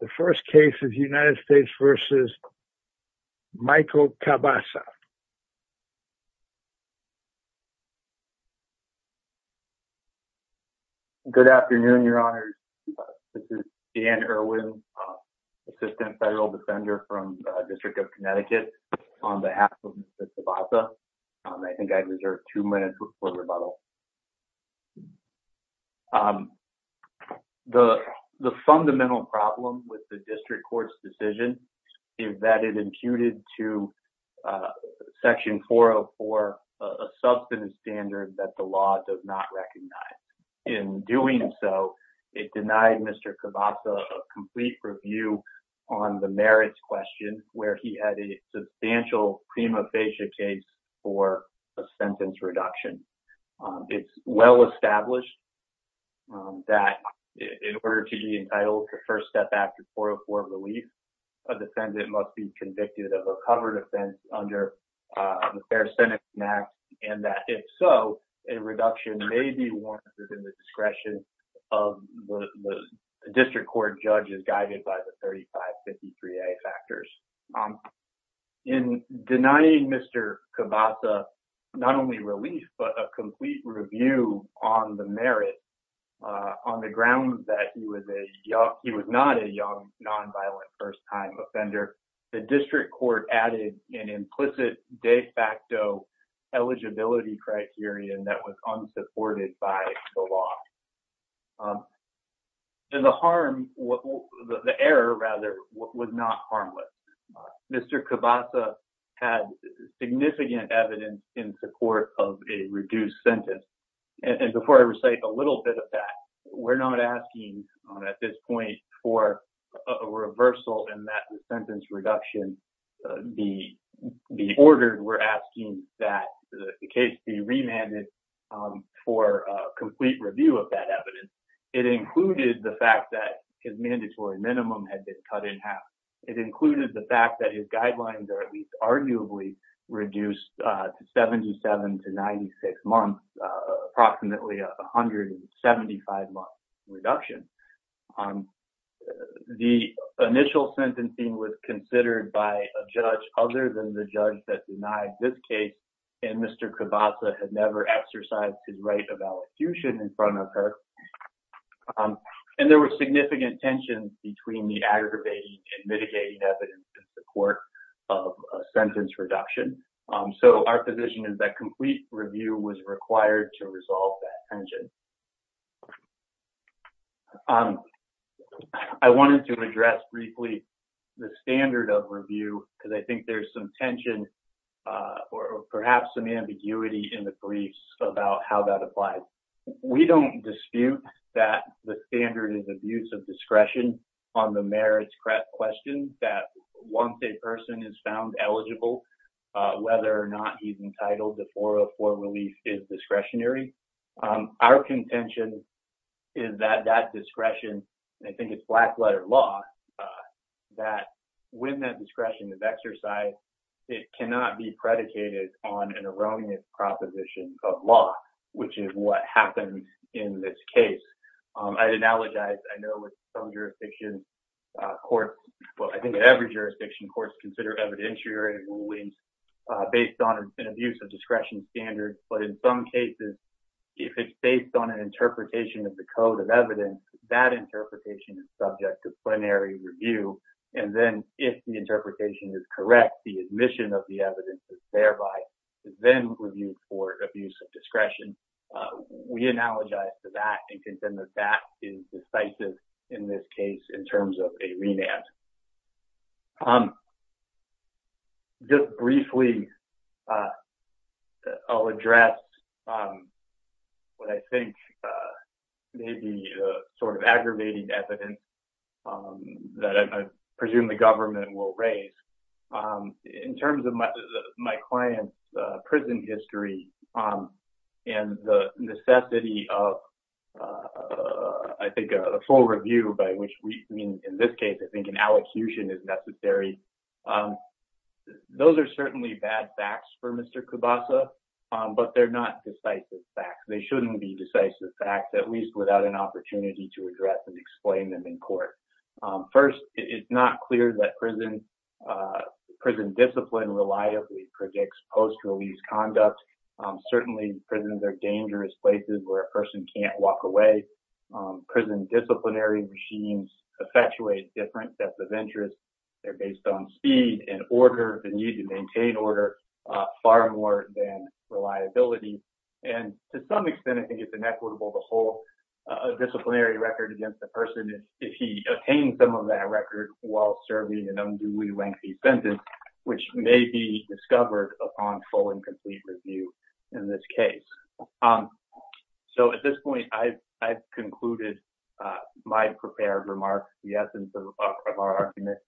The first case is United States v. Michael Cabassa. Good afternoon, Your Honors. This is Dan Irwin, Assistant Federal Defender from the District of Connecticut, on behalf of Mr. Cabassa. I think I'd reserve two minutes for rebuttal. The fundamental problem with the District Court's decision is that it imputed to Section 404 a substantive standard that the law does not recognize. In doing so, it denied Mr. Cabassa a complete review on the merits question, where he had a substantial prima facie case for a sentence reduction. It's well-established that in order to be entitled to first step after 404 release, a defendant must be convicted of a covered offense under the Fair Senate Act, and that if so, a reduction may be warranted within the discretion of the District Court judges guided by the 3553A factors. In denying Mr. Cabassa not only relief, but a complete review on the merits on the grounds that he was not a young, nonviolent first-time offender, the District Court added an implicit de facto eligibility criterion that was unsupported by the law. And the harm, the error, rather, was not harmless. Mr. Cabassa had significant evidence in support of a reduced sentence, and before I recite a little bit of that, we're not asking at this point for a reversal in that sentence reduction. We're asking that the case be remanded for a complete review of that evidence. It included the fact that his mandatory minimum had been cut in half. It included the fact that his guidelines are at least arguably reduced to 77 to 96 months, approximately a 175-month reduction. The initial sentencing was considered by a judge other than the judge that denied this case, and Mr. Cabassa had never exercised his right of allocution in front of her. And there were significant tensions between the aggravating and mitigating evidence in support of a sentence reduction. So, our position is that complete review was required to resolve that tension. I wanted to address briefly the standard of review, because I think there's some tension or perhaps some ambiguity in the briefs about how that applies. We don't dispute that the standard is abuse of discretion on the merits questions that once a person is found eligible, whether or not he's entitled to 404 relief is discretionary. Our contention is that that discretion, I think it's black-letter law, that when that discretion is exercised, it cannot be predicated on an erroneous proposition of law, which is what happened in this case. I'd analogize, I know with some jurisdictions, courts, well, I think every jurisdiction courts consider evidentiary rulings based on an abuse of discretion standard, but in some cases, if it's based on an interpretation of the code of evidence, that interpretation is subject to plenary review. And then, if the interpretation is correct, the admission of the evidence is thereby then reviewed for abuse of discretion. We analogize to that and contend that that is decisive in this case in terms of a remand. Just briefly, I'll address what I think may be sort of aggravating evidence that I presume the government will raise. In terms of my client's prison history and the necessity of, I think, a full review by which we, in this case, I think an allocution is necessary. Those are certainly bad facts for Mr. Kubasa, but they're not decisive facts. They shouldn't be decisive facts, at least without an opportunity to address and explain them in court. First, it's not clear that prison discipline reliably predicts post-release conduct. Certainly, prisons are dangerous places where a person can't walk away. Prison disciplinary machines effectuate different steps of interest. They're based on speed and order, the need to maintain order, far more than reliability. And to some extent, I think it's inequitable to hold a disciplinary record against a person if he obtained some of that record while serving an unduly lengthy sentence, which may be discovered upon full and complete review in this case. At this point, I've concluded my prepared remarks. The essence of our argument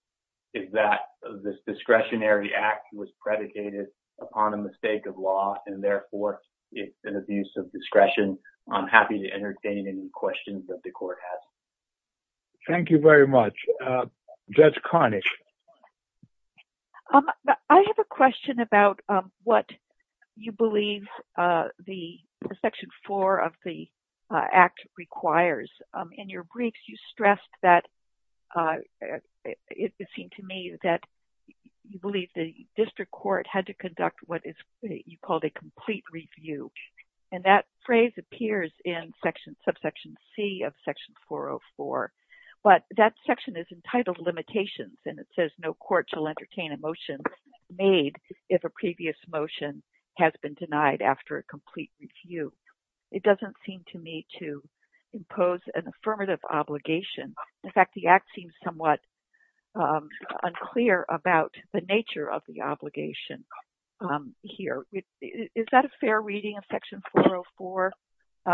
is that this discretionary act was predicated upon a mistake of law, and therefore, it's an abuse of discretion. I'm happy to entertain any questions that the court has. Thank you very much. Judge Karnick. I have a question about what you believe the Section 4 of the Act requires. In your briefs, you stressed that, it seemed to me, that you believe the district court had to conduct what you called a complete review. And that phrase appears in Subsection C of Section 404. But that section is entitled Limitations, and it says no court shall entertain a motion made if a previous motion has been denied after a complete review. It doesn't seem to me to impose an affirmative obligation. In fact, the Act seems somewhat unclear about the nature of the obligation here. Is that a fair reading of Section 404?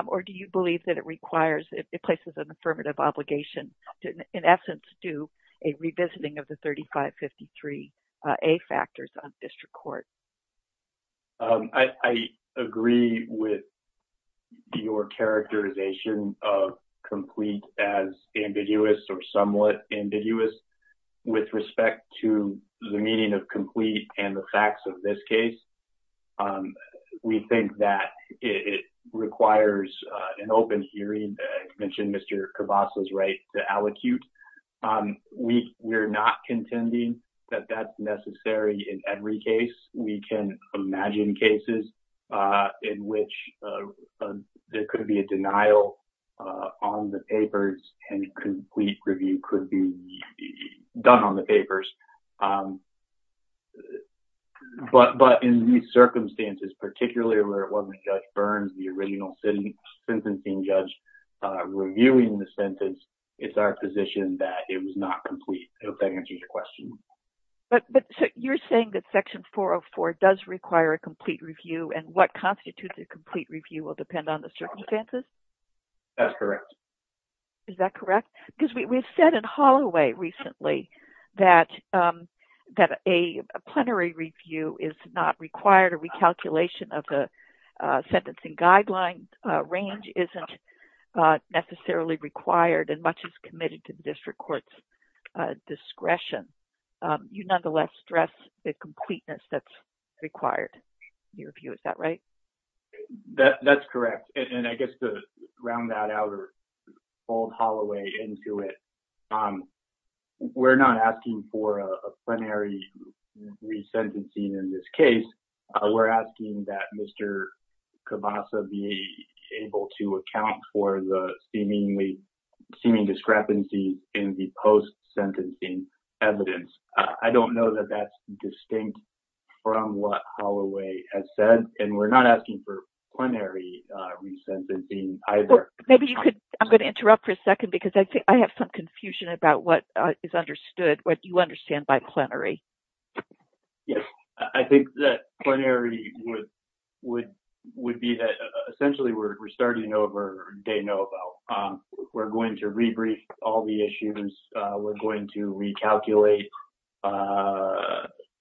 Or do you believe that it places an affirmative obligation to, in essence, do a revisiting of the 3553A factors on district court? I agree with your characterization of complete as ambiguous or somewhat ambiguous with respect to the meaning of complete and the facts of this case. We think that it requires an open hearing. I mentioned Mr. Cavassa's right to allocute. We're not contending that that's necessary in every case. We can imagine cases in which there could be a denial on the papers and a complete review could be done on the papers. But in these circumstances, particularly where it wasn't Judge Burns, the original sentencing judge, reviewing the sentence, it's our position that it was not complete. I hope that answers your question. But you're saying that Section 404 does require a complete review and what constitutes a complete review will depend on the circumstances? That's correct. Is that correct? Because we've said in Holloway recently that a plenary review is not required. A recalculation of the sentencing guideline range isn't necessarily required and much is committed to the district court's discretion. You nonetheless stress the completeness that's required in your view. Is that right? That's correct. I guess to round that out or fold Holloway into it, we're not asking for a plenary resentencing in this case. We're asking that Mr. Cavassa be able to account for the seeming discrepancy in the post-sentencing evidence. I don't know that that's distinct from what Holloway has said and we're not asking for plenary resentencing either. I'm going to interrupt for a second because I think I have some confusion about what is understood, what you understand by plenary. Yes. I think that plenary would be that essentially we're starting over de novo. We're going to rebrief all the issues. We're going to recalculate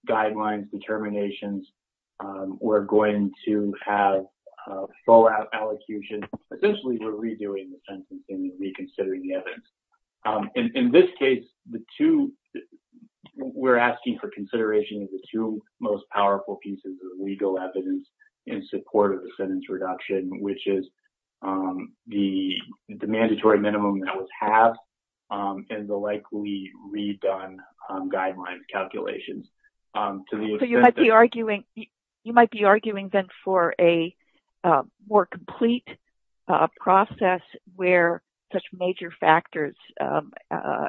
guidelines, determinations. We're going to have fallout allocutions. Essentially, we're redoing the sentence and reconsidering the evidence. In this case, we're asking for consideration of the two most powerful pieces of legal evidence in support of the sentence reduction, which is the mandatory minimum that was halved and the likely redone guideline calculations. You might be arguing then for a more complete process where such major factors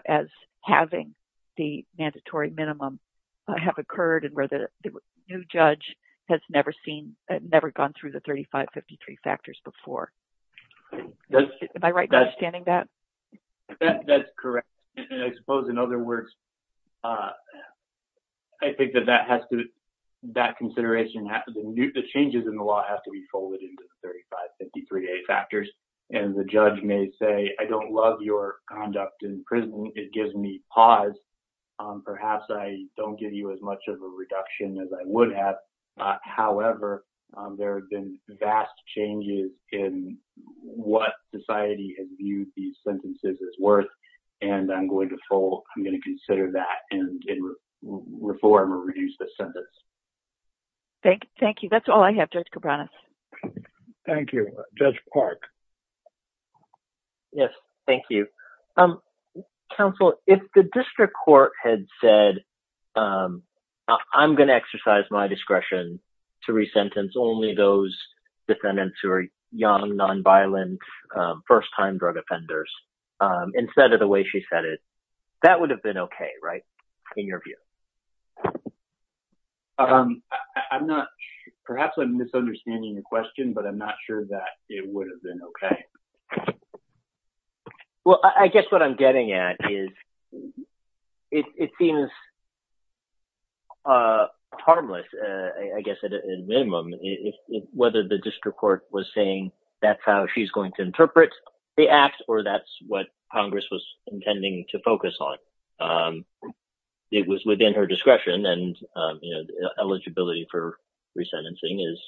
as halving the mandatory minimum have occurred and where the new judge has never gone through the 3553 factors before. Am I right in understanding that? That's correct. I suppose in other words, I think that that consideration, the changes in the law have to be folded into the 3553A factors. The judge may say, I don't love your conduct in prison. It gives me pause. Perhaps I don't give you as much of a reduction as I would have. However, there have been vast changes in what society has viewed these sentences as worth and I'm going to consider that and reform or reduce the sentence. Thank you. That's all I have, Judge Cabranes. Thank you. Judge Park. Yes. Thank you. Counsel, if the district court had said, I'm going to exercise my discretion to resentence only those defendants who are young, nonviolent, first-time drug offenders, instead of the way she said it, that would have been okay, right? In your view. I'm not, perhaps I'm misunderstanding the question, but I'm not sure that it would have been okay. Well, I guess what I'm getting at is it seems harmless, I guess at a minimum, whether the district court was saying that's how she's going to interpret the act or that's what Congress was intending to focus on. It was within her discretion and eligibility for resentencing is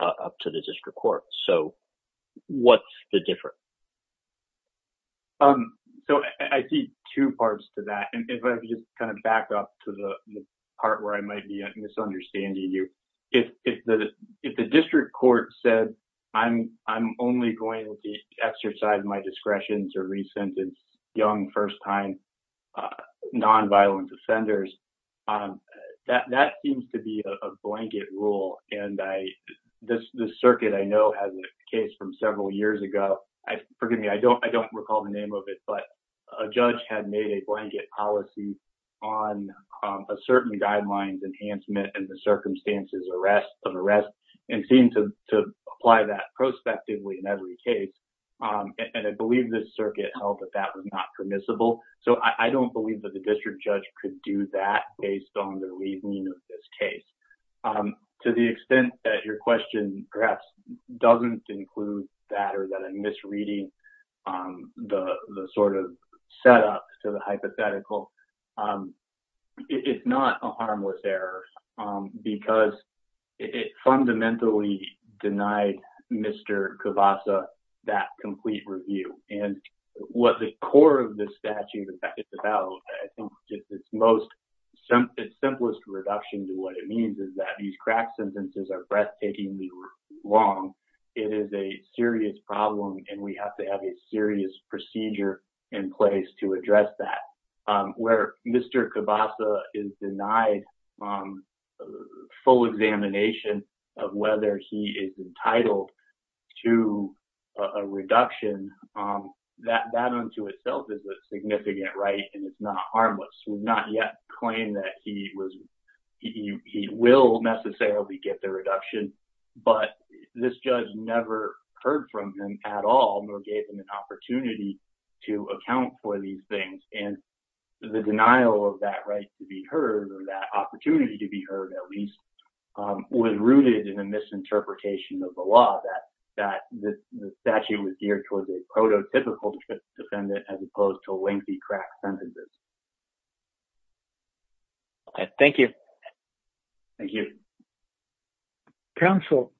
up to the district court. So, what's the difference? So, I see two parts to that. If I could just kind of back up to the part where I might be misunderstanding you. If the district court said, I'm only going to exercise my discretion to resentence young, first-time nonviolent offenders, that seems to be a blanket rule. And this circuit I know has a case from several years ago. Forgive me, I don't recall the name of it, but a judge had made a blanket policy on a certain guidelines enhancement and the circumstances of arrest and seemed to apply that prospectively in every case. And I believe this circuit held that that was not permissible. So, I don't believe that the district judge could do that based on the reasoning of this case. To the extent that your question perhaps doesn't include that or that I'm misreading the sort of setup to the hypothetical, it's not a harmless error because it fundamentally denied Mr. Kibasa that complete review. And what the core of this statute is about, I think it's simplest reduction to what it means is that these crack sentences are breathtakingly wrong. It is a serious problem and we have to have a serious procedure in place to address that. Where Mr. Kibasa is denied full examination of whether he is entitled to a reduction, that unto itself is a significant right and it's not harmless. We've not yet claimed that he will necessarily get the reduction, but this judge never heard from him at all, nor gave him an opportunity to account for these things. And the denial of that right to be heard or that opportunity to be heard at least was rooted in a misinterpretation of the law that the statute was geared towards a prototypical defendant as opposed to lengthy crack sentences. Thank you. Counsel,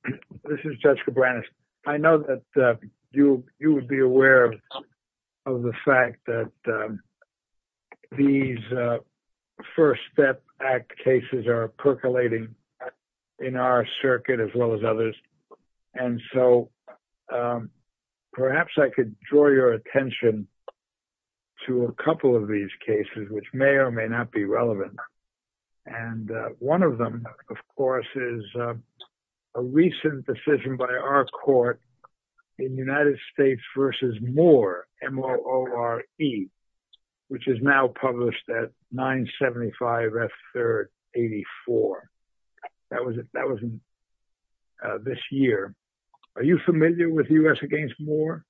this is Judge Cabranes. I know that you would be aware of the fact that these First Step Act cases are percolating in our circuit as well as others. And so perhaps I could draw your attention to a couple of these cases, which may or may not be relevant. And one of them, of course, is a recent decision by our court in United States v. Moore, M-O-O-R-E, which is now published at 975 F. 3rd 84. That was this year. Are you familiar with U.S. v. Moore?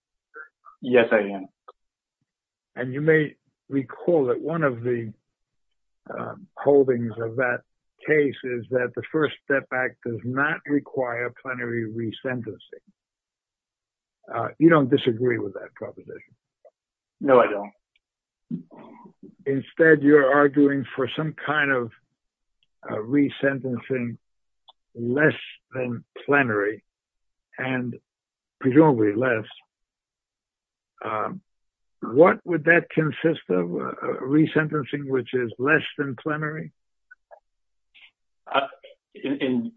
Yes, I am. And you may recall that one of the holdings of that case is that the First Step Act does not require plenary re-sentencing. You don't disagree with that proposition? No, I don't. Instead, you're arguing for some kind of re-sentencing less than plenary and presumably less. What would that consist of? Re-sentencing which is less than plenary?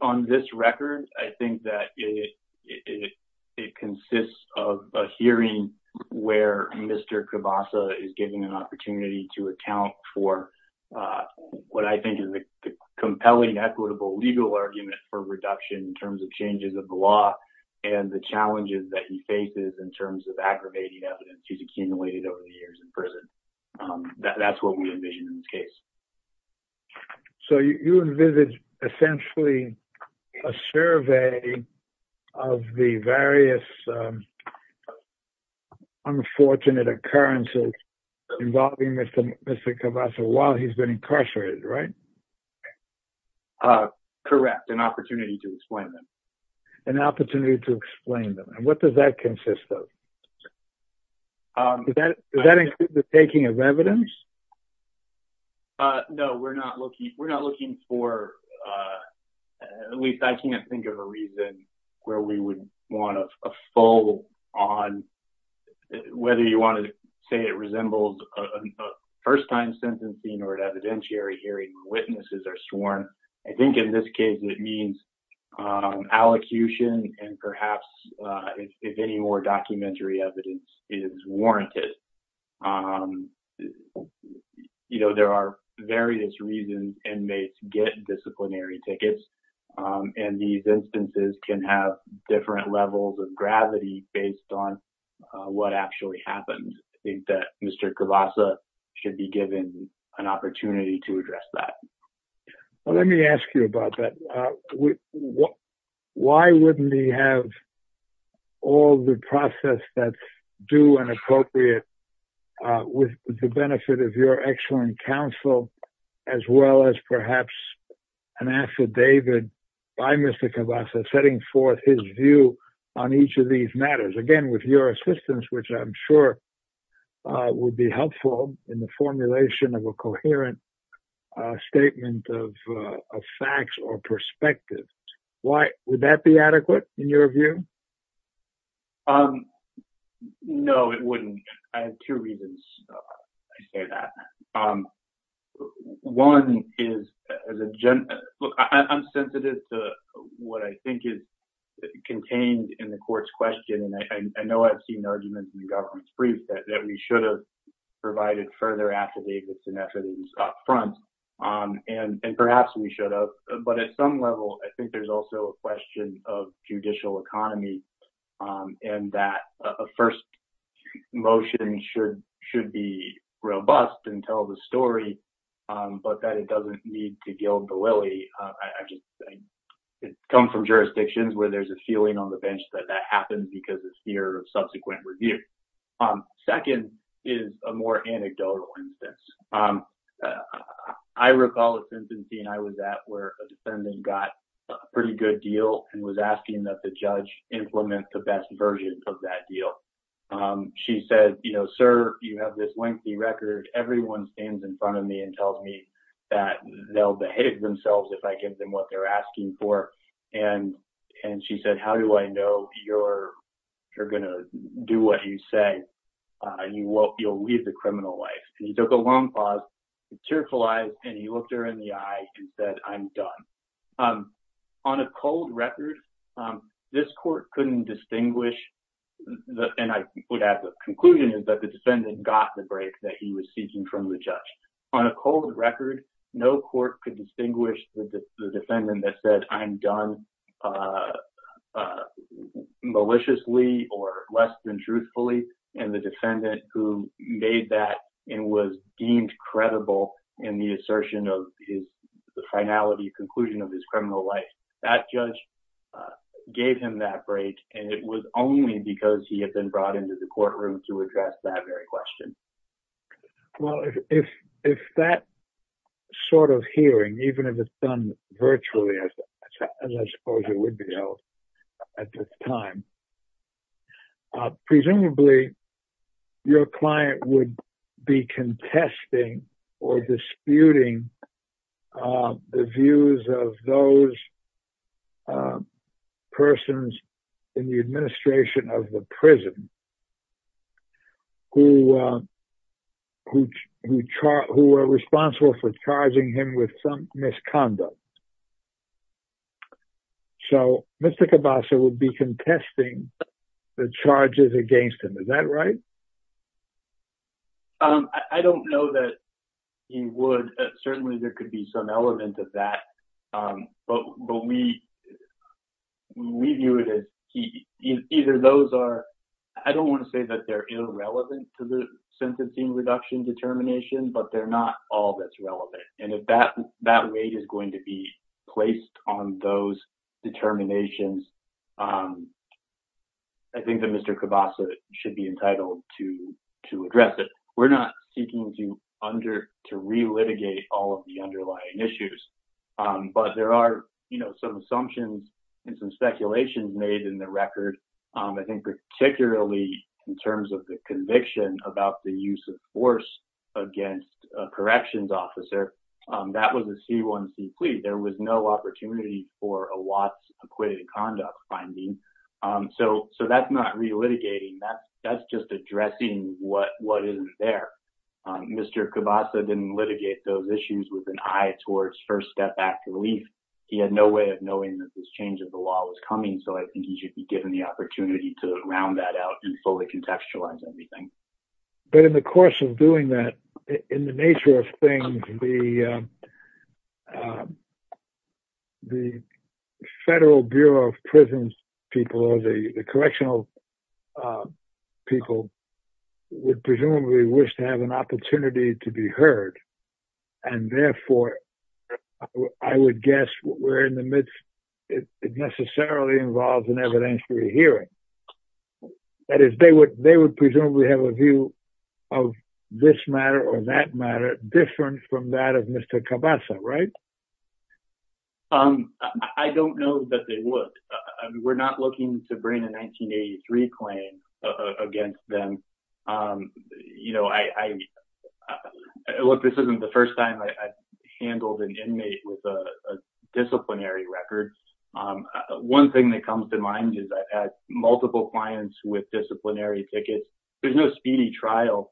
On this record, I think that it consists of a hearing where Mr. Kibasa is given an opportunity to account for what I think is a compelling, equitable legal argument for reduction in terms of changes of the law and the challenges that he faces in terms of aggravating evidence that he's accumulated over the years in prison. That's what we envision in this case. So you envisage essentially a survey of the various unfortunate occurrences involving Mr. Kibasa while he's been incarcerated, right? Correct, an opportunity to explain them. An opportunity to explain them. What does that consist of? Does that include the taking of evidence? No, we're not looking for, at least I can't think of a reason where we would want a full on, whether you want to say it resembles a first-time sentencing or an evidentiary hearing where witnesses are sworn. I think in this case, it means allocution and perhaps if any more documentary evidence is warranted. There are various reasons inmates get disciplinary tickets and these instances can have different levels of gravity based on what actually happened. I think that Mr. Kibasa should be given an opportunity to address that. Let me ask you about that. Why wouldn't he have all the process that's due and appropriate with the benefit of your excellent counsel as well as perhaps an affidavit by Mr. Kibasa setting forth his view on each of these matters? Again, with your assistance, which I'm sure would be helpful in the formulation of a coherent statement of facts or perspective. Would that be adequate in your view? No, it wouldn't. I have two reasons I say that. I'm sensitive to what I think is contained in the court's question. I know I've seen arguments in the government's brief that we should have provided further affidavits and perhaps we should have but at some level I think there's also a question of judicial economy and that a first motion should be robust and tell the story but that it doesn't need to gild the lily. It comes from jurisdictions where there's a feeling on the bench that that happens because of fear of subsequent review. Second is a more anecdotal instance. I recall a sentencing I was at where a defendant got a pretty good deal and was asking that the judge implement the best version of that deal. She said, you know, sir, you have this lengthy record. Everyone stands in front of me and tells me that they'll behave themselves if I give them what they're asking for and she said, how do I know you're going to do what you say and you'll lead the criminal life? He took a long pause, tearful eyes and he looked her in the eye and said, I'm done. On a cold record, this court couldn't distinguish and I would add the conclusion is that the defendant got the break that he was seeking from the judge. On a cold record, no court could distinguish the defendant that said, I'm done maliciously or less than truthfully and the defendant who made that and was deemed credible in the assertion of the finality, conclusion of his criminal life. That judge gave him that break and it was only because he had been brought into the courtroom to address that very question. Well, if that sort of hearing even if it's done virtually as I suppose it would be at this time presumably your client would be contesting or disputing the views of those persons in the administration of the prison who were responsible for charging him with some misconduct. So Mr. Cabasa would be contesting the charges against him, is that right? I don't know that he would. Certainly there could be some element of that but we view it as either those are I don't want to say that they're irrelevant to the sentencing reduction determination but they're not all that's relevant and if that weight is going to be placed on those determinations I think that Mr. Cabasa should be entitled to address it. We're not seeking to re-litigate all of the underlying issues but there are some assumptions and some speculations made in the record I think particularly in terms of the conviction about the use of force against a corrections officer that was a C1C plea there was no opportunity for a Watts acquitted conduct finding so that's not re-litigating that's just addressing what isn't there. Mr. Cabasa didn't litigate those issues with an eye towards first step back relief he had no way of knowing that this change of the law was coming so I think he should be given the opportunity to round that out and fully contextualize everything. But in the course of doing that in the nature of things the Federal Bureau of Prisons people or the correctional people would presumably wish to have an opportunity to be heard and therefore I would guess we're in the midst it necessarily involves an evidentiary hearing that is they would presumably have a view of this matter or that matter different from that of Mr. Cabasa, right? I don't know that they would we're not looking to bring a 1983 claim against them look this isn't the first time I've handled an inmate with a disciplinary record one thing that comes to mind is that at multiple clients with disciplinary tickets there's no speedy trial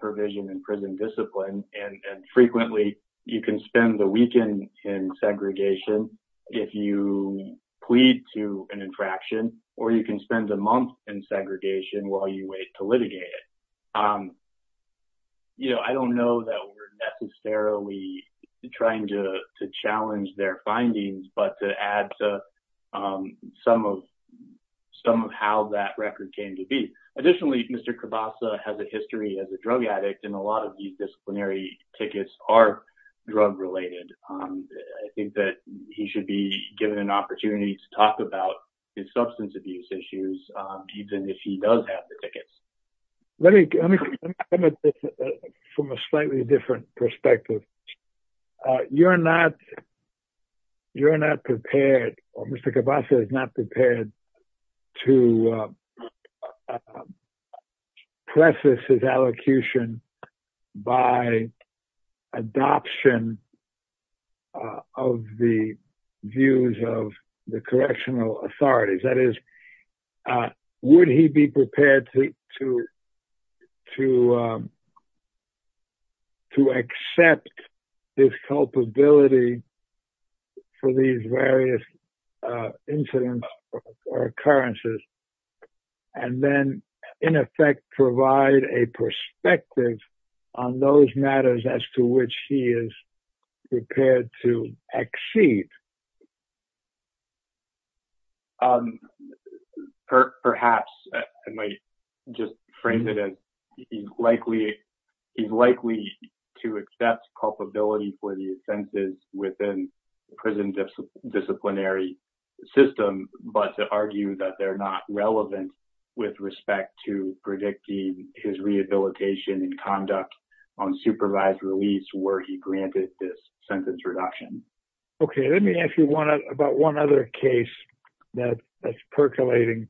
provision in prison discipline and frequently you can spend the weekend in segregation if you plead to an infraction or you can spend a month in segregation while you wait to litigate it I don't know that we're necessarily trying to challenge their findings but to add to some of how that record came to be additionally, Mr. Cabasa has a history as a drug addict and a lot of these disciplinary tickets are drug related I think that he should be given an opportunity to talk about his substance abuse issues even if he does have the tickets let me come at this from a slightly different perspective you're not you're not prepared Mr. Cabasa is not prepared to preface his allocution by adoption of the views of the correctional authorities would he be prepared to to accept his culpability for these various incidents or occurrences and then in effect provide a perspective on those matters as to which he is prepared to exceed perhaps I might just frame it he's likely to accept culpability for the offenses within prison disciplinary system but to argue that they're not relevant with respect to predicting his rehabilitation and conduct on supervised release where he granted this sentence reduction okay let me ask you about one other case that's percolating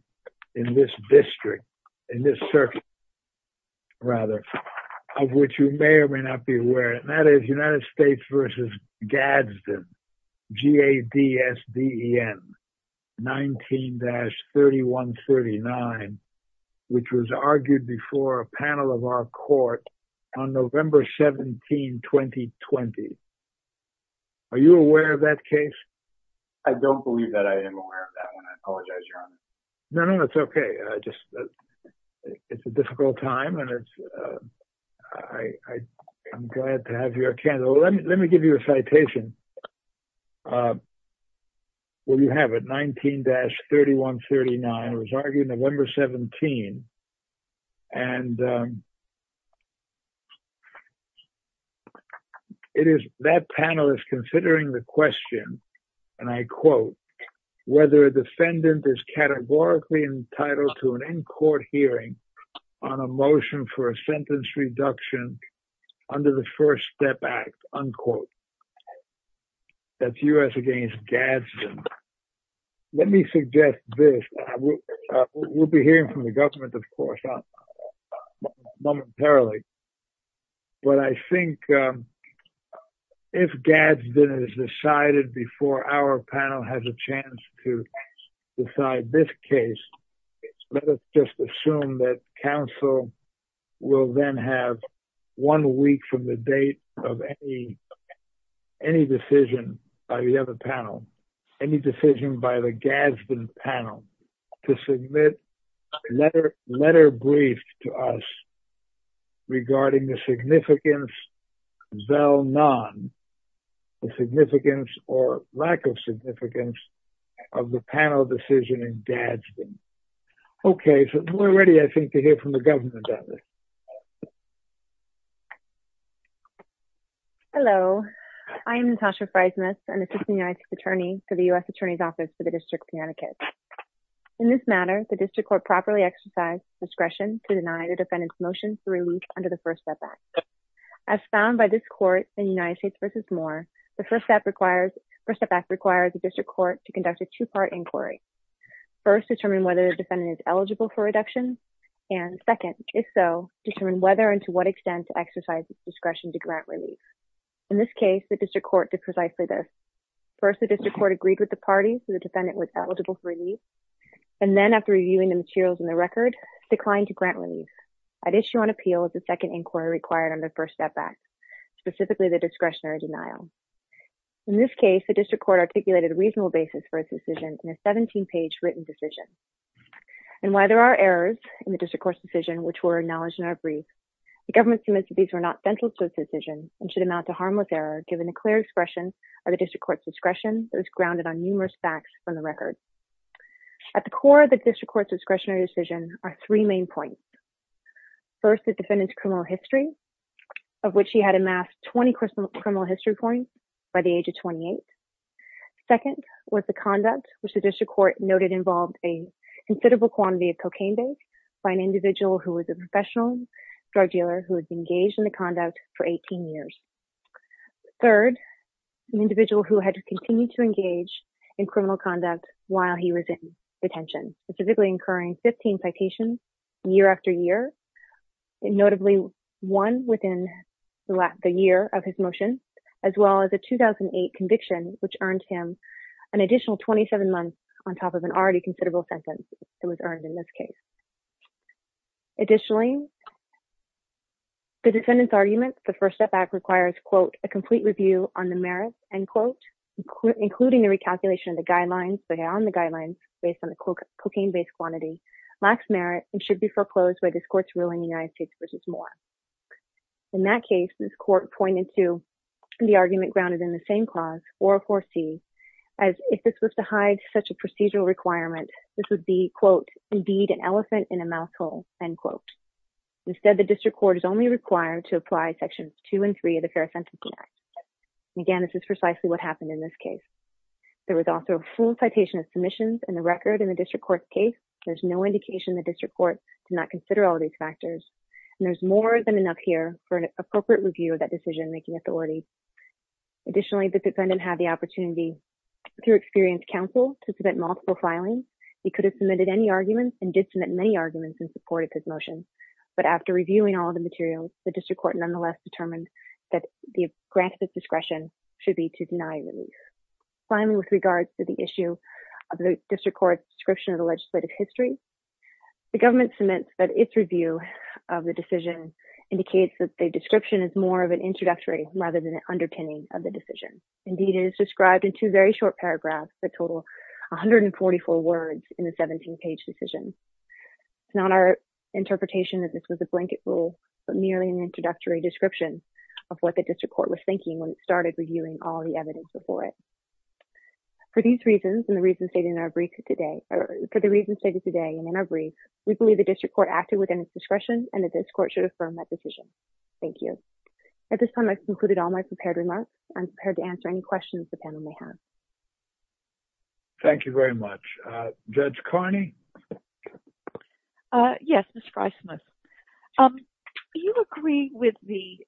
in this district in this circuit of which you may or may not be aware and that is United States versus Gadsden G-A-D-S-D-E-N 19- 3139 which was argued before a panel of our court on November 17 2020 are you aware of that case? I don't believe that I am aware of that one I apologize your honor no no it's okay it's a difficult time I'm glad to have you here let me give you a citation well you have it 19- 3139 was argued on November 17 and it is that panel is considering the question and I quote whether a defendant is categorically entitled to an in-court hearing on a motion for a sentence reduction under the first step act unquote that's U.S. against Gadsden let me suggest this we'll be hearing from the government of course momentarily but I think if Gadsden is decided before our panel has a chance to decide this case let us just assume that counsel will then have one week from the date of any decision by the other panel any decision by the Gadsden panel to submit a letter brief to us regarding the significance of zel non the significance or lack of significance of the panel decision in Gadsden okay we're ready I think to hear from the government on this hello I am Natasha Frysmas an assistant United States attorney for the U.S. attorney's office for the district of Connecticut in this matter the district court properly exercised discretion to deny the defendant's motion for relief under the first step act as found by this court in United States versus Moore the first step act requires the district court to conduct a two-part inquiry first determine whether the defendant is eligible for reduction and second if so determine whether and to what extent to exercise discretion to grant relief in this case the district court did precisely this first the district court agreed with the party that the defendant was eligible for relief and then after reviewing the materials in the record declined to grant relief at issue on appeal is a second inquiry required under first step act specifically the discretionary denial in this case the district court articulated a reasonable basis for its decision in a 17 page written decision and while there are errors in the district court's decision which were acknowledged in our brief the government submits that these were not central to its decision and should amount to harmless error given the clear expression of the district court's discretion that was grounded on numerous facts from the record at the core of the district court's discretionary decision are three main points first the defendant's criminal history of which he had amassed 20 criminal history points by the age of 28 second was the conduct which the district court noted involved a considerable quantity of cocaine based by an individual who was a professional drug dealer who was engaged in the conduct for 18 years third an individual who had continued to engage in criminal conduct while he was in detention specifically incurring 15 citations year after year notably one within the year of his motion as well as a 2008 conviction which earned him an additional 27 months on top of an already considerable sentence that was earned in this case additionally the defendant's argument the first step back requires quote a complete review on the merit end quote including the recalculation of the guidelines based on the cocaine based quantity lacks merit and should be foreclosed by this court's ruling in the United States v. Moore in that case this court pointed to the argument grounded in the same clause 404c as if this was to hide such a procedural requirement this would be quote indeed an elephant in a mouse hole end quote instead the district court is only required to apply sections 2 and 3 of the Fair Sentencing Act and again this is precisely what happened in this case there was also a full citation of submissions and the record in the district court's case there's no indication the district court did not consider all these factors and there's more than enough here for an appropriate review of that decision making authority additionally the defendant had the opportunity through experienced counsel to submit multiple filings he could have submitted any arguments and did submit many arguments in support of his motion but after reviewing all the materials the district court nonetheless determined that the grant of his discretion should be to deny release finally with regards to the issue of the district court's description of the legislative history the government cements that its review of the decision indicates that the description is more of an introductory rather than an underpinning of the decision indeed it is described in two very short paragraphs that total 144 words in the 17 page decision it's not our interpretation that this was a blanket rule but merely an introductory description of what the district court was thinking when it for these reasons and the reasons stated in our brief today for the reasons stated today and in our brief we believe the district court acted within its discretion and the district court should affirm that decision thank you at this time I've concluded all my prepared remarks I'm prepared to answer any questions the panel may have thank you very much Judge Carney yes Ms. Fry-Smith do you agree with the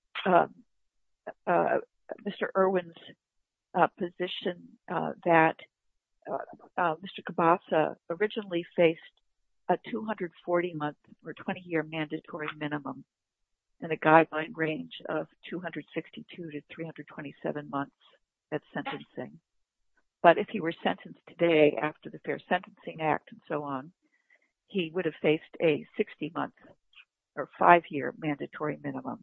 Mr. Irwin's position that Mr. Kibasa originally faced a 240 month or 20 year mandatory minimum in a guideline range of 262 to 327 months at sentencing but if he were sentenced today after the Fair Sentencing Act and so on he would have faced a 60 month or 5 year mandatory minimum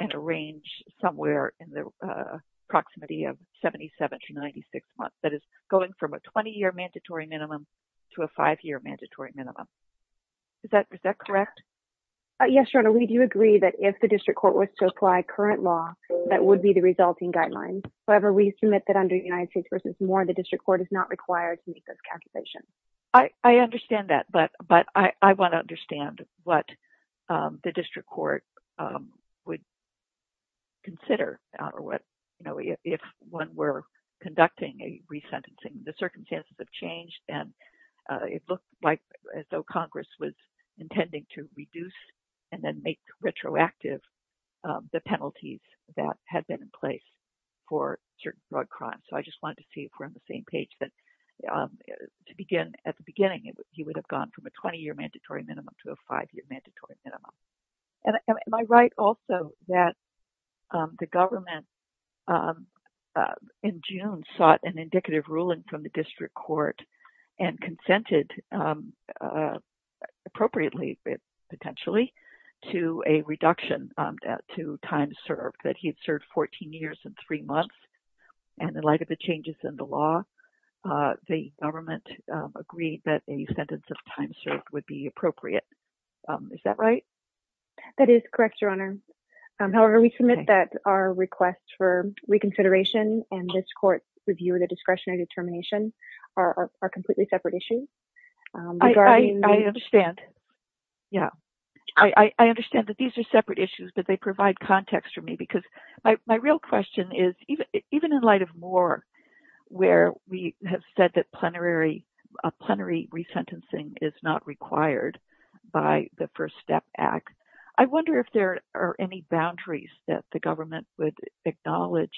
in a range somewhere in the proximity of 77 to 96 months that is going from a 20 year mandatory minimum to a 5 year mandatory minimum is that correct yes your honor we do agree that if the district court was to apply current law that would be the resulting guidelines however we submit that under United States v. Moore the district court is not required to make those calculations I understand that but I want to understand what the district court would consider if one were conducting a resentencing the circumstances have changed and it looked like though Congress was intending to reduce and then make retroactive the penalties that had been in place for certain drug crimes so I just wanted to see if we're on the same page to begin at the beginning he would have gone from a 20 year mandatory minimum to a 5 year mandatory minimum am I right also that the government in June sought an indicative ruling from the district court and consented appropriately potentially to a reduction to time served that he had served 14 years and 3 months and in light of the changes in the law the government agreed that a sentence of time served would be appropriate is that right that is correct your honor however we submit that our request for reconsideration and this court review the discretionary determination are completely separate issues I understand I understand that these are separate issues but they provide context for me because my real question is even in light of Moore where we have said that plenary resentencing is not required by the first step act I wonder if there are any boundaries that the government would acknowledge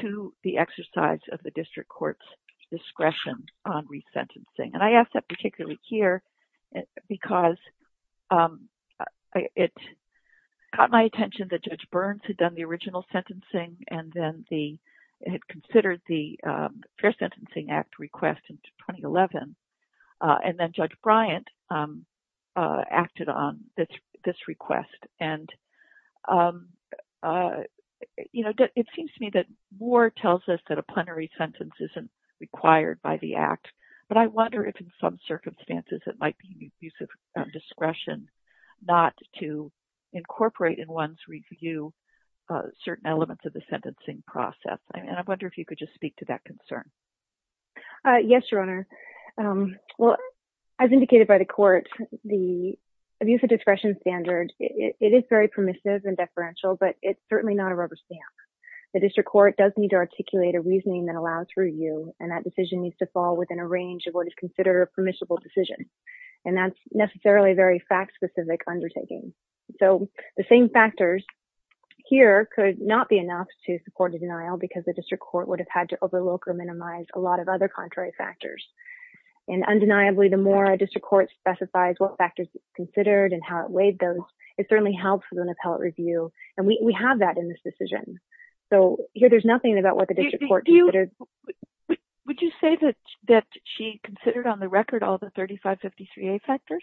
to the exercise of the district courts discretion on resentencing and I ask that particularly here because it caught my attention that Judge Burns had done the original sentencing and then he had considered the plenary sentencing act request in 2011 and then Judge Bryant acted on this request and you know it seems to me that Moore tells us that a plenary sentence isn't required by the act but I wonder if in some circumstances it might be use of discretion not to incorporate in one's review certain elements of the sentencing process and I wonder if you could just speak to that concern Yes Your Honor as indicated by the court the use of discretion standard it is very permissive and deferential but it's certainly not a rubber stamp the district court does need to articulate a reasoning that allows review and that decision needs to fall within a range of what is considered a permissible decision and that's necessarily a very fact specific undertaking so the same factors here could not be enough to support a denial because the district court would have had to overlook or minimize a lot of other contrary factors and undeniably the more district court specifies what factors considered and how it weighed those it certainly helps with an appellate review and we have that in this decision so here there's nothing about what the district court considered Would you say that she considered on the record all the 3553A factors?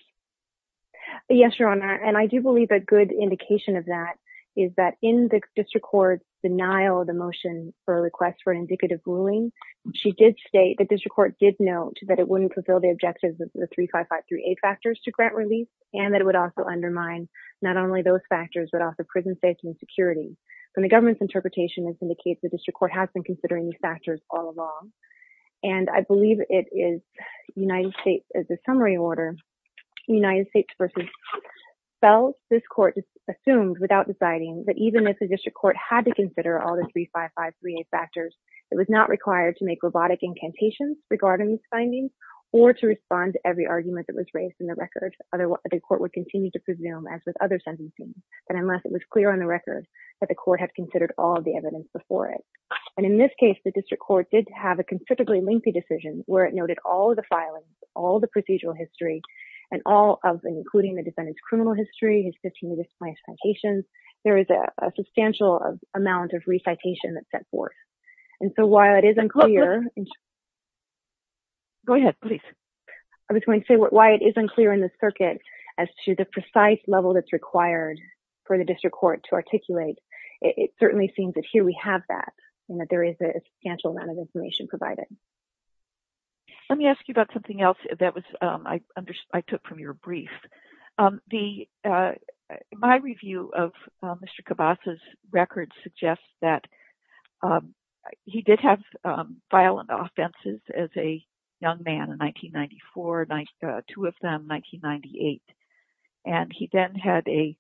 Yes Your Honor and I do believe a good indication of that is that in the district court denial of the motion for a request for an indicative ruling she did state the district court did note that it wouldn't fulfill the objectives of the 3553A factors to grant release and that it would also undermine not only those factors but also prison safety and security and the government's interpretation indicates the district court has been considering these factors all along and I believe it is United States as a summary order United States versus Bell, this court assumed without deciding that even if the district court had to consider all the 3553A factors it was not required to make robotic incantations regarding these findings or to respond to every argument that was raised in the record the court would continue to presume as with other sentencing that unless it was clear on the record that the court had considered all the evidence before it and in this case the district court did have a constrictively lengthy decision where it noted all the filings, all the procedural history and all of including the defendant's criminal history, his 15 discipline citations, there is a substantial amount of recitation that's set forth and so while it is unclear go ahead please I was going to say why it is unclear in the circuit as to the precise level that's required for the district court to articulate it certainly seems that here we have that and that there is a substantial amount of information provided let me ask you about something else that I took from your brief my review of Mr. Kibasa's record suggests that he did have violent offenses as a young man in 1994 two of them in 1998 and he then had a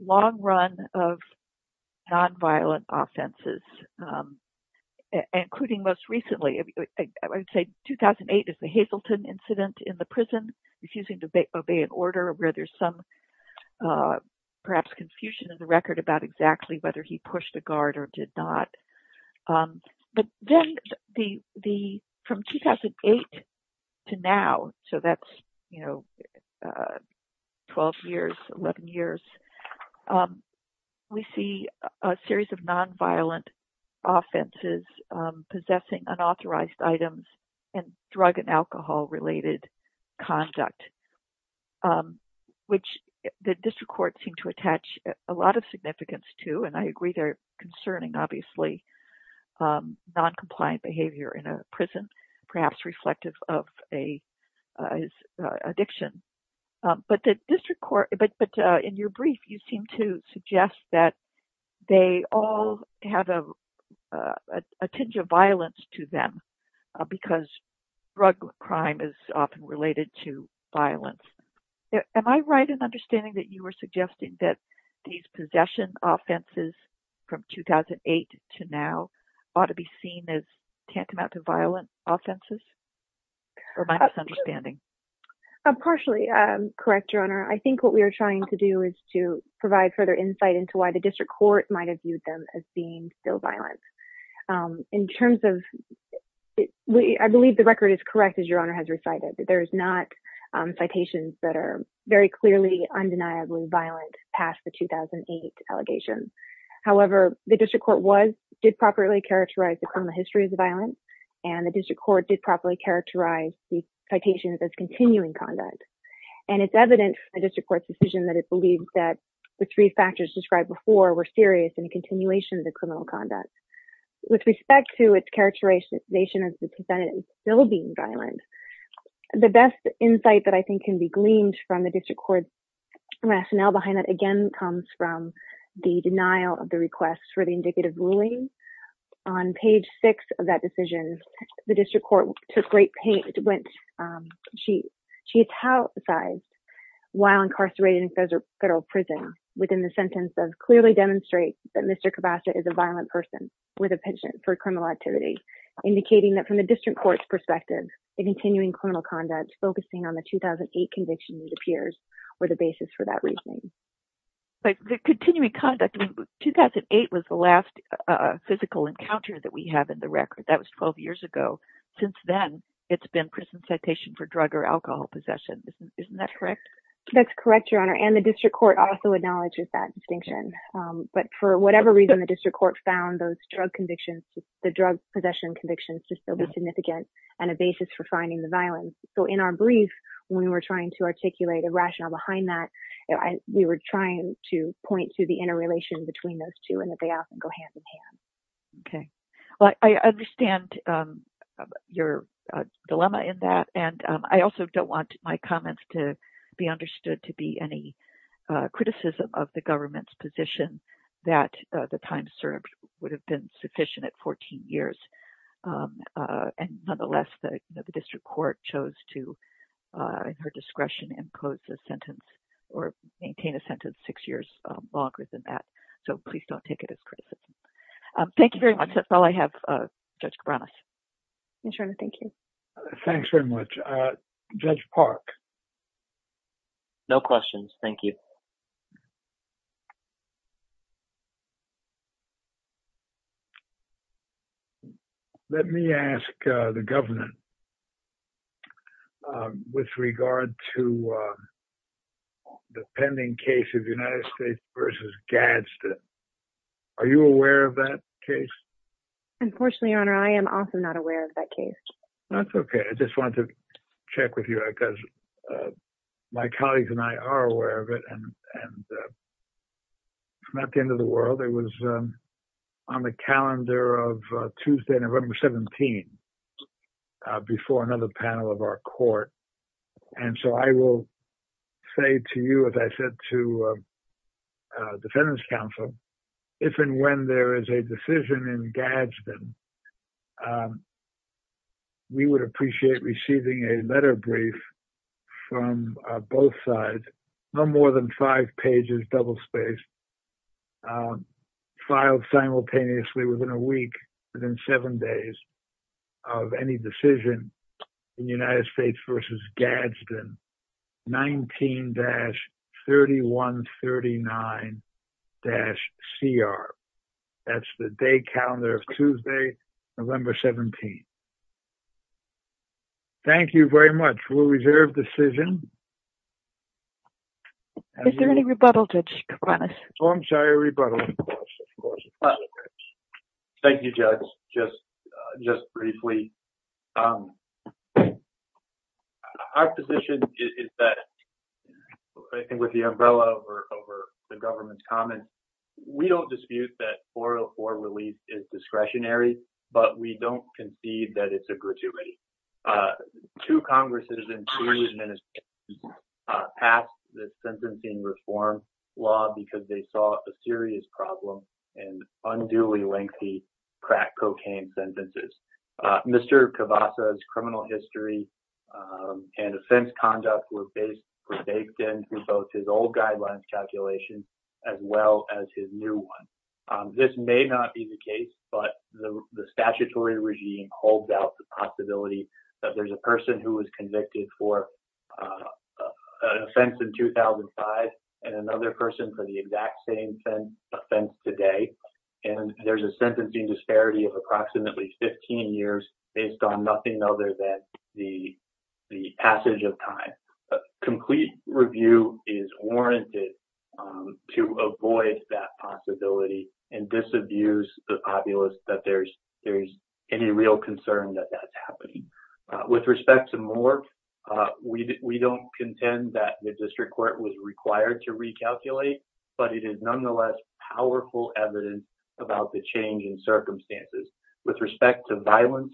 long run of non-violent offenses including most recently I would say 2008 is the Hazleton incident in the prison refusing to obey an order where there's some perhaps confusion in the record about exactly whether he pushed a guard or did not but then from 2008 to now so that's 12 years 11 years we see a series of non-violent offenses possessing unauthorized items and drug and alcohol related conduct which the district court seemed to attach a lot of significance to and I agree they're concerning obviously non-compliant behavior in a prison perhaps reflective of a addiction but the district court but in your brief you seem to suggest that they all have a tinge of violence to them because drug crime is often related to violence am I right in understanding that you were suggesting that these possession offenses from 2008 to now ought to be seen as tantamount to violent offenses or am I misunderstanding? partially correct your honor I think what we are trying to do is to clarify what the district court might have viewed them as being still violent in terms of I believe the record is correct as your honor has recited that there is not citations that are very clearly undeniably violent past the 2008 allegations however the district court did properly characterize the history of the violence and the district court did properly characterize the citations as continuing conduct and it's evident from the district court's decision that it believes that the three factors described before were serious in the continuation of the criminal conduct with respect to its characterization as the defendant is still being violent the best insight that I think can be gleaned from the district court rationale behind that again comes from the denial of the request for the indicative ruling on page 6 of that decision the district court took great pain she she while incarcerated in federal prison within the sentence of clearly demonstrate that Mr. Kibasa is a violent person with a penchant for criminal activity indicating that from the district court's perspective the continuing criminal conduct focusing on the 2008 conviction it appears were the basis for that reasoning the continuing conduct 2008 was the last physical encounter that we have in the record that was 12 years ago since then it's been prison citation for drug or alcohol possession isn't that correct that's correct your honor and the district court also acknowledges that distinction but for whatever reason the district court found those drug convictions the drug possession convictions to still be significant and a basis for finding the violence so in our brief when we were trying to articulate a rationale behind that we were trying to point to the interrelation between those two and that they often go hand in hand okay well I understand your dilemma in that and I also don't want my comments to be understood to be any criticism of the government's position that the time served would have been sufficient at 14 years and nonetheless the district court chose to in her discretion and close the sentence or maintain a sentence six years longer than that so please don't take it as criticism thank you very much that's all I have Judge Cabranas your honor thank you thanks very much Judge Park no questions thank you let me ask the government with regard to the pending case of the United States versus Gadsden are you aware of that case unfortunately your honor I am also not aware of that case that's okay I just wanted to check with you because my colleagues and I are aware of it and not the end of the world it was on the calendar of Tuesday November 17 before another panel of our court and so I will say to you as I said to defendants counsel if and when there is a decision in Gadsden we would appreciate receiving a letter brief from both sides no more than five pages double spaced filed simultaneously within a week within seven days of any decision in the United States versus Gadsden 19- 3139- CR that's the day calendar of Tuesday November 17 thank you very much we'll reserve decision is there any rebuttal Judge Kovanec oh I'm sorry a rebuttal of course thank you Judge just briefly our position is that I think with the umbrella over the government's comments we don't dispute that 404 release is discretionary but we don't concede that it's a gratuity to Congress it has been two administrations passed this sentencing reform law because they saw a serious problem and unduly lengthy crack cocaine sentences Mr. Kavassa's criminal history and offense conduct was based in both his old guidelines calculation as well as his new one this may not be the case but the statutory regime holds out the possibility that there's a person who was convicted for an offense in 2005 and another person for the exact same offense today and there's a sentencing disparity of approximately 15 years based on another that the passage of time complete review is warranted to avoid that possibility and disabuse the populace that there's any real concern that that's happening with respect to more we don't contend that the district court was required to recalculate but it is nonetheless powerful evidence about the change in circumstances with respect to violence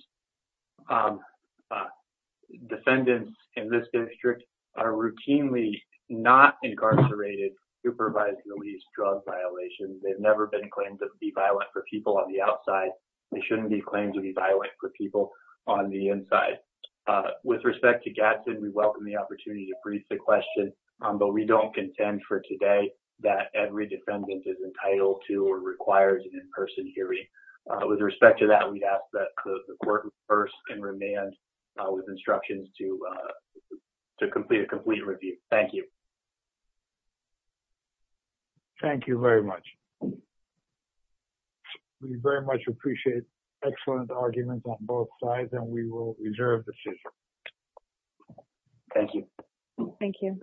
defendants in this district are routinely not incarcerated supervising the least drug violations they've never been claimed to be violent for people on the outside they shouldn't be claimed to be violent for people on the inside with respect to Gatson we welcome the opportunity to brief the question but we don't contend for today that every defendant is entitled to or requires an in person hearing with respect to that we ask that the court rehearse and remand with instructions to complete a complete review thank you thank you very much we very much appreciate excellent arguments on both sides and we will reserve the decision thank you thank you